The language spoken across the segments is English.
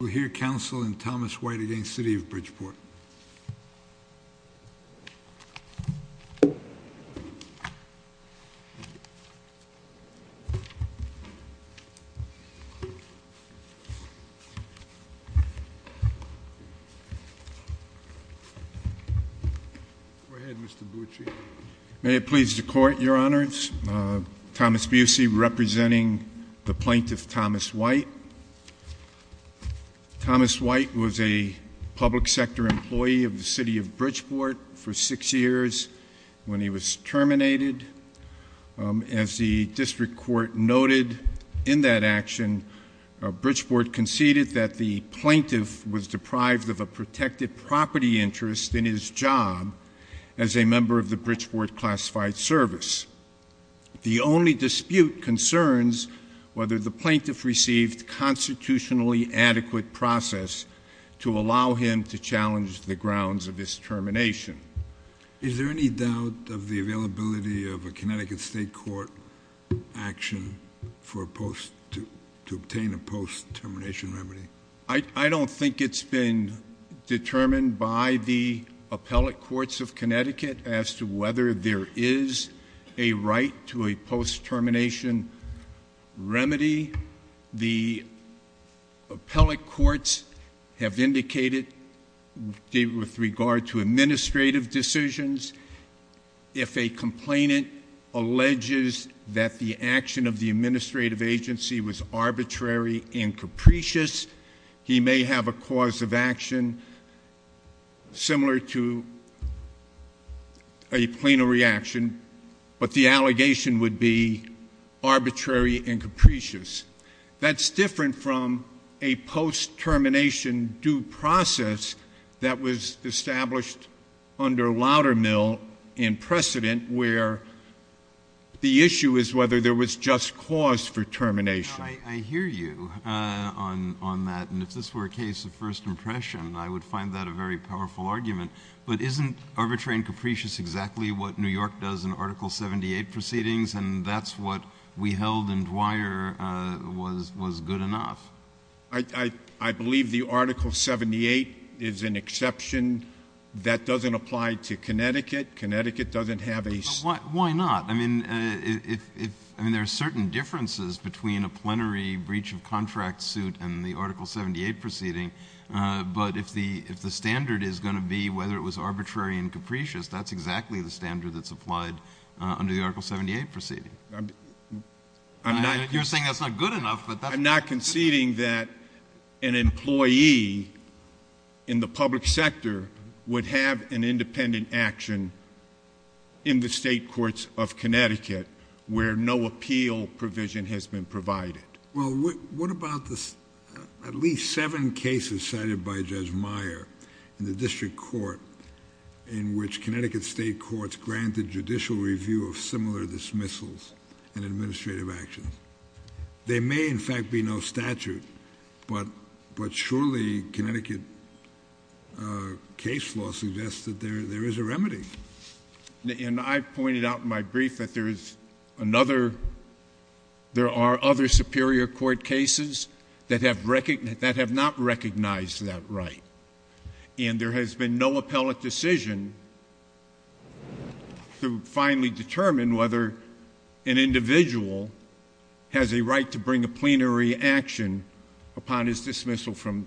We will hear counsel in Thomas White v. City of Bridgeport. May it please the Court, Your Honors, Thomas Busey representing the plaintiff Thomas White. Thomas White was a public sector employee of the City of Bridgeport for six years when he was terminated. As the District Court noted in that action, Bridgeport conceded that the plaintiff was deprived of a protected property interest in his job as a member of the Bridgeport Classified Service. The only dispute concerns whether the plaintiff received constitutionally adequate process to allow him to challenge the grounds of his termination. Is there any doubt of the availability of a Connecticut State Court action to obtain a post-termination remedy? I don't think it's been determined by the appellate courts of Connecticut as to whether there is a right to a post-termination remedy. The appellate courts have indicated, with regard to administrative decisions, if a complainant alleges that the action of the administrative agency was arbitrary and capricious, he may have a cause of action similar to a plenary action, but the allegation would be arbitrary and capricious. That's different from a post-termination due process that was established under Loudermill and precedent where the issue is whether there was just cause for termination. I hear you on that, and if this were a case of first impression, I would find that a very powerful argument. But isn't arbitrary and capricious exactly what New York does in Article 78 proceedings, and that's what we held in Dwyer was good enough? I believe the Article 78 is an exception. That doesn't apply to Connecticut. Connecticut doesn't have a— Why not? I mean, there are certain differences between a plenary breach of contract suit and the Article 78 proceeding, but if the standard is going to be whether it was arbitrary and capricious, that's exactly the standard that's applied under the Article 78 proceeding. You're saying that's not good enough, but that's— where no appeal provision has been provided. Well, what about at least seven cases cited by Judge Meyer in the district court in which Connecticut state courts granted judicial review of similar dismissals and administrative actions? There may, in fact, be no statute, but surely Connecticut case law suggests that there is a remedy. And I pointed out in my brief that there is another—there are other superior court cases that have not recognized that right. And there has been no appellate decision to finally determine whether an individual has a right to bring a plenary action upon his dismissal from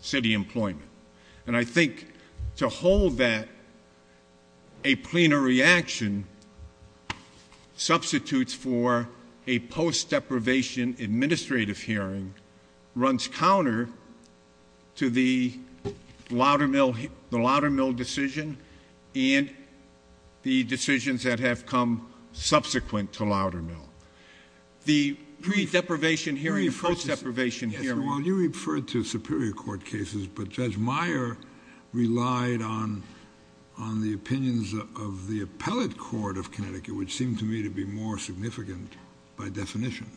city employment. And I think to hold that a plenary action substitutes for a post-deprivation administrative hearing runs counter to the Loudermill decision and the decisions that have come subsequent to Loudermill. The pre-deprivation hearing and post-deprivation hearing— Judge Meyer relied on the opinions of the appellate court of Connecticut, which seemed to me to be more significant by definition.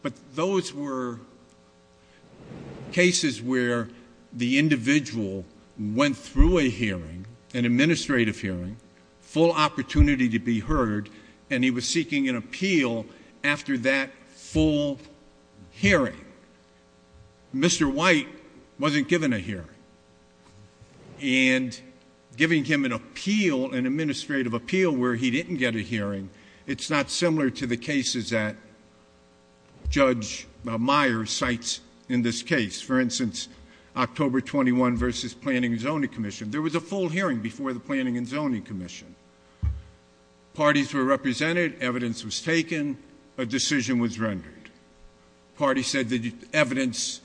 But those were cases where the individual went through a hearing, an administrative hearing, full opportunity to be heard, and he was seeking an appeal after that full hearing. Mr. White wasn't given a hearing. And giving him an appeal, an administrative appeal where he didn't get a hearing, it's not similar to the cases that Judge Meyer cites in this case. For instance, October 21 versus Planning and Zoning Commission. There was a full hearing before the Planning and Zoning Commission. Parties were represented. Evidence was taken. A decision was rendered. Parties said the evidence—the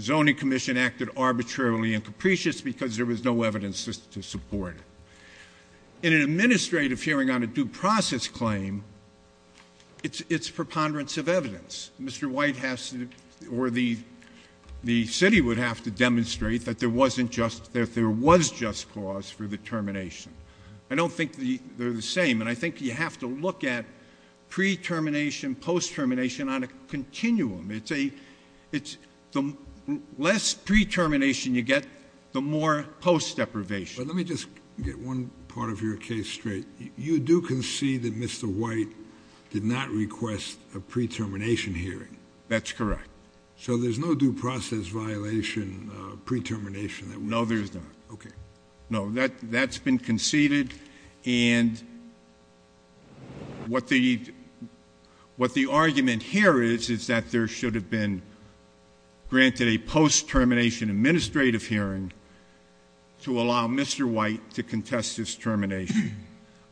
Zoning Commission acted arbitrarily and capricious because there was no evidence to support it. In an administrative hearing on a due process claim, it's preponderance of evidence. Mr. White has to—or the city would have to demonstrate that there wasn't just—that there was just cause for the termination. I don't think they're the same, and I think you have to look at pre-termination, post-termination on a continuum. It's a—the less pre-termination you get, the more post-deprivation. But let me just get one part of your case straight. You do concede that Mr. White did not request a pre-termination hearing. That's correct. So there's no due process violation pre-termination that— No, there's not. Okay. No, that's been conceded, and what the argument here is is that there should have been granted a post-termination administrative hearing to allow Mr. White to contest his termination.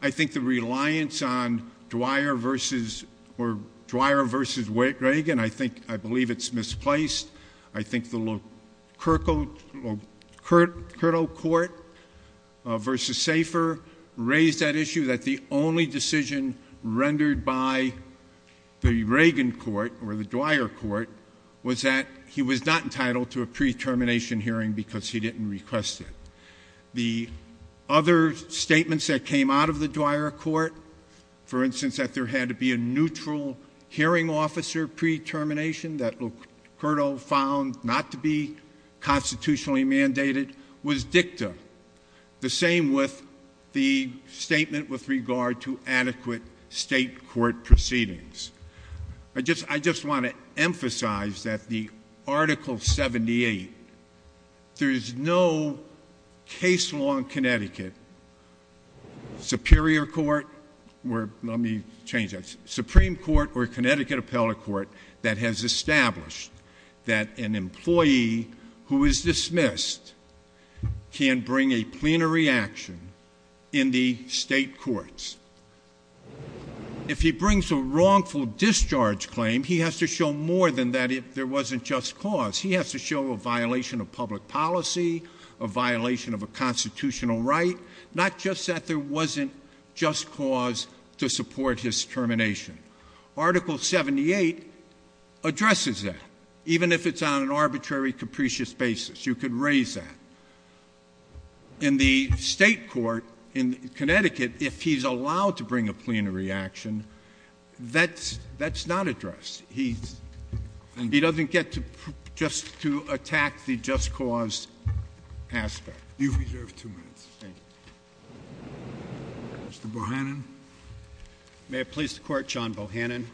I think the reliance on Dwyer versus—or Dwyer versus Reagan, I think—I believe it's misplaced. I think the Locurto court versus Safer raised that issue that the only decision rendered by the Reagan court or the Dwyer court was that he was not entitled to a pre-termination hearing because he didn't request it. The other statements that came out of the Dwyer court, for instance, that there had to be a neutral hearing officer pre-termination that Locurto found not to be constitutionally mandated, was dicta. The same with the statement with regard to adequate state court proceedings. I just want to emphasize that the Article 78, there is no case law in Connecticut, Superior Court—let me change that—Supreme Court or Connecticut Appellate Court that has established that an employee who is dismissed can bring a plenary action in the state courts. If he brings a wrongful discharge claim, he has to show more than that if there wasn't just cause. He has to show a violation of public policy, a violation of a constitutional right, not just that there wasn't just cause to support his termination. Article 78 addresses that, even if it's on an arbitrary, capricious basis. You could raise that. In the state court in Connecticut, if he's allowed to bring a plenary action, that's not addressed. He doesn't get just to attack the just cause aspect. You've reserved two minutes. Thank you. Mr. Bohannon. May it please the Court, John Bohannon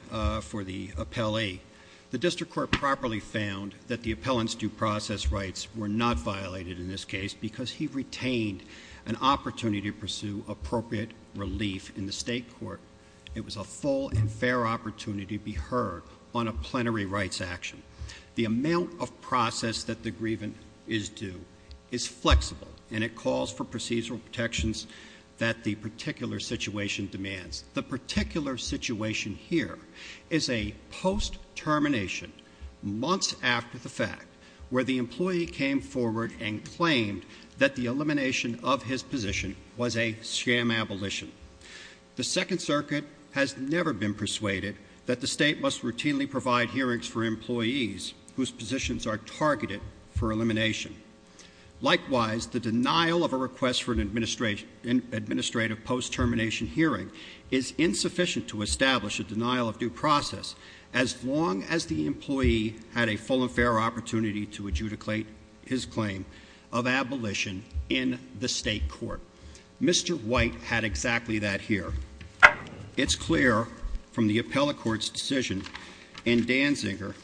for the Appellee. The district court properly found that the appellant's due process rights were not violated in this case because he retained an opportunity to pursue appropriate relief in the state court. It was a full and fair opportunity to be heard on a plenary rights action. The amount of process that the grievant is due is flexible, and it calls for procedural protections that the particular situation demands. The particular situation here is a post-termination, months after the fact, where the employee came forward and claimed that the elimination of his position was a scam abolition. The Second Circuit has never been persuaded that the state must routinely provide hearings for employees whose positions are targeted for elimination. Likewise, the denial of a request for an administrative post-termination hearing is insufficient to establish a denial of due process as long as the employee had a full and fair opportunity to adjudicate his claim of abolition in the state court. Mr. White had exactly that here. It's clear from the appellate court's decision in Danziger,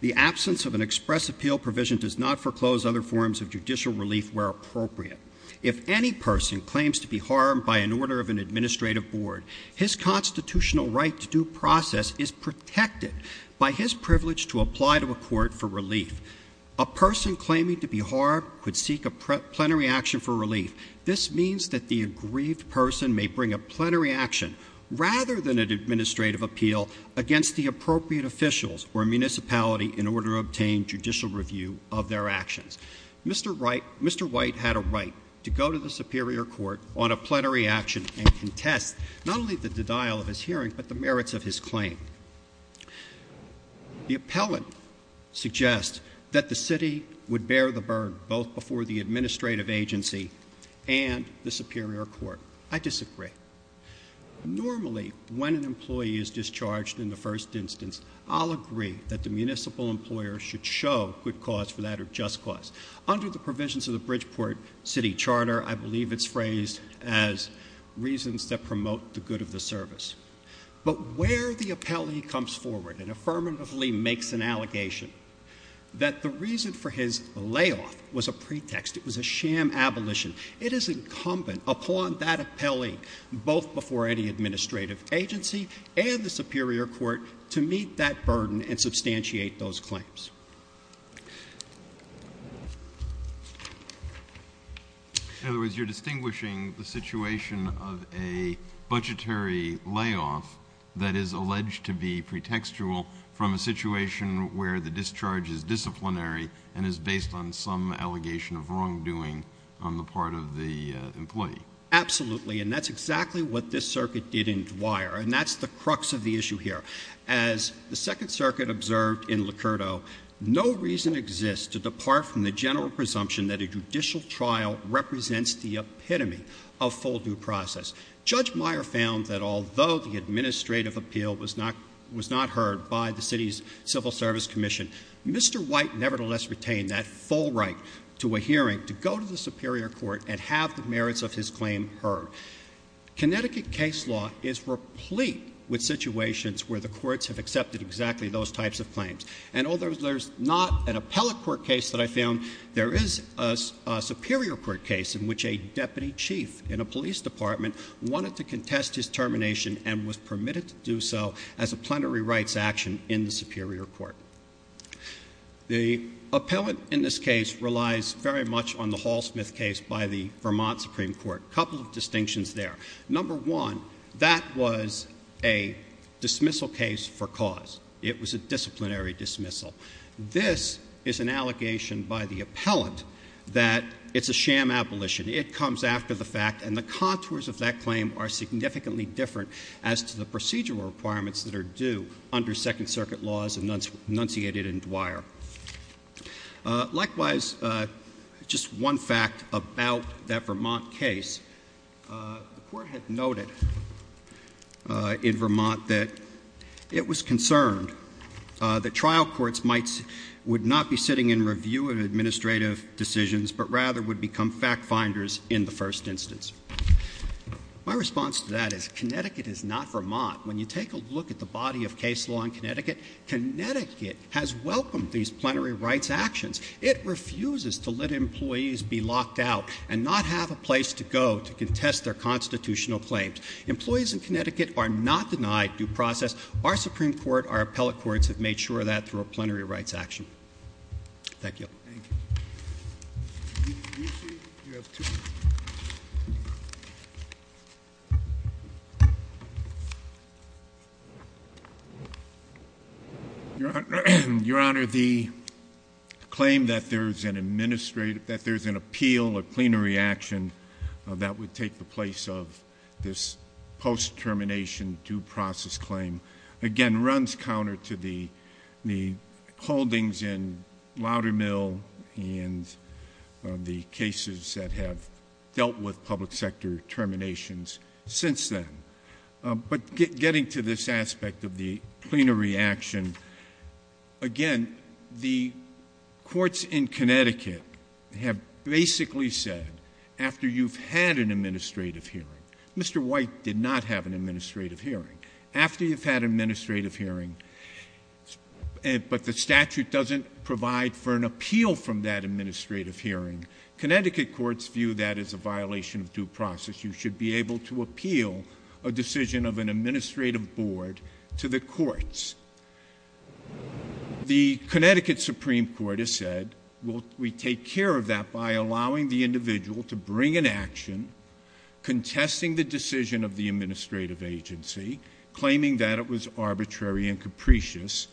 the absence of an express appeal provision does not foreclose other forms of judicial relief where appropriate. If any person claims to be harmed by an order of an administrative board, his constitutional right to due process is protected by his privilege to apply to a court for relief. A person claiming to be harmed could seek a plenary action for relief. This means that the aggrieved person may bring a plenary action rather than an administrative appeal against the appropriate officials or municipality in order to obtain judicial review of their actions. Mr. White had a right to go to the Superior Court on a plenary action and contest not only the denial of his hearing, but the merits of his claim. The appellate suggests that the city would bear the burden both before the administrative agency and the Superior Court. I disagree. Normally, when an employee is discharged in the first instance, I'll agree that the municipal employer should show good cause for that or just cause. Under the provisions of the Bridgeport City Charter, I believe it's phrased as reasons that promote the good of the service. But where the appellee comes forward and affirmatively makes an allegation that the reason for his layoff was a pretext, it was a sham abolition. It is incumbent upon that appellee, both before any administrative agency and the Superior Court, to meet that burden and substantiate those claims. In other words, you're distinguishing the situation of a budgetary layoff that is alleged to be pretextual from a situation where the discharge is disciplinary and is based on some allegation of wrongdoing on the part of the employee. Absolutely, and that's exactly what this circuit did in Dwyer, and that's the crux of the issue here. As the Second Circuit observed in Locurdo, no reason exists to depart from the general presumption that a judicial trial represents the epitome of full due process. Judge Meyer found that although the administrative appeal was not heard by the city's civil service commission, Mr. White nevertheless retained that full right to a hearing to go to the Superior Court and have the merits of his claim heard. Connecticut case law is replete with situations where the courts have accepted exactly those types of claims. And although there's not an appellate court case that I found, there is a Superior Court case in which a deputy chief in a police department wanted to contest his termination and was permitted to do so as a plenary rights action in the Superior Court. The appellant in this case relies very much on the Hall-Smith case by the Vermont Supreme Court. Couple of distinctions there. Number one, that was a dismissal case for cause. It was a disciplinary dismissal. This is an allegation by the appellant that it's a sham abolition. It comes after the fact, and the contours of that claim are significantly different as to the procedural requirements that are due under Second Circuit laws enunciated in Dwyer. Likewise, just one fact about that Vermont case. The court had noted in Vermont that it was concerned that trial courts would not be sitting in review of administrative decisions, but rather would become fact finders in the first instance. My response to that is Connecticut is not Vermont. When you take a look at the body of case law in Connecticut, Connecticut has welcomed these plenary rights actions. It refuses to let employees be locked out and not have a place to go to contest their constitutional claims. Employees in Connecticut are not denied due process. Our Supreme Court, our appellate courts have made sure of that through a plenary rights action. Thank you. Thank you. Your Honor, the claim that there's an appeal, a plenary action that would take the place of this post-termination due process claim. Again, runs counter to the holdings in Loudermill and the cases that have dealt with public sector terminations since then. But getting to this aspect of the plenary action, again, the courts in Connecticut have basically said, after you've had an administrative hearing, Mr. White did not have an administrative hearing. After you've had an administrative hearing, but the statute doesn't provide for an appeal from that administrative hearing. Connecticut courts view that as a violation of due process. You should be able to appeal a decision of an administrative board to the courts. The Connecticut Supreme Court has said, we take care of that by allowing the individual to bring an action, contesting the decision of the administrative agency, claiming that it was arbitrary and capricious,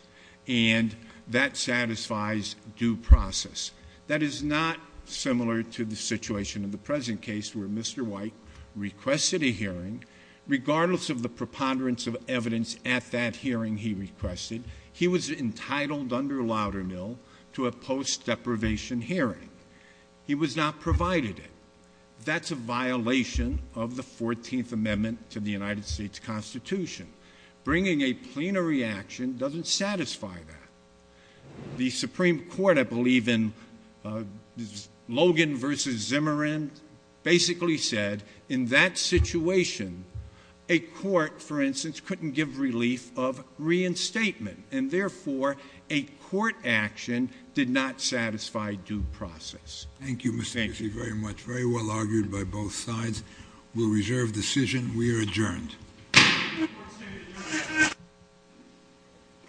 and that satisfies due process. That is not similar to the situation in the present case where Mr. White requested a hearing. Regardless of the preponderance of evidence at that hearing he requested, he was entitled under Loudermill to a post deprivation hearing. He was not provided it. That's a violation of the 14th Amendment to the United States Constitution. Bringing a plenary action doesn't satisfy that. The Supreme Court, I believe in Logan versus Zimmerman, basically said, in that situation, a court, for instance, couldn't give relief of reinstatement, and therefore, a court action did not satisfy due process. Thank you, Mr. Casey, very much. Very well argued by both sides. We'll reserve decision. We are adjourned.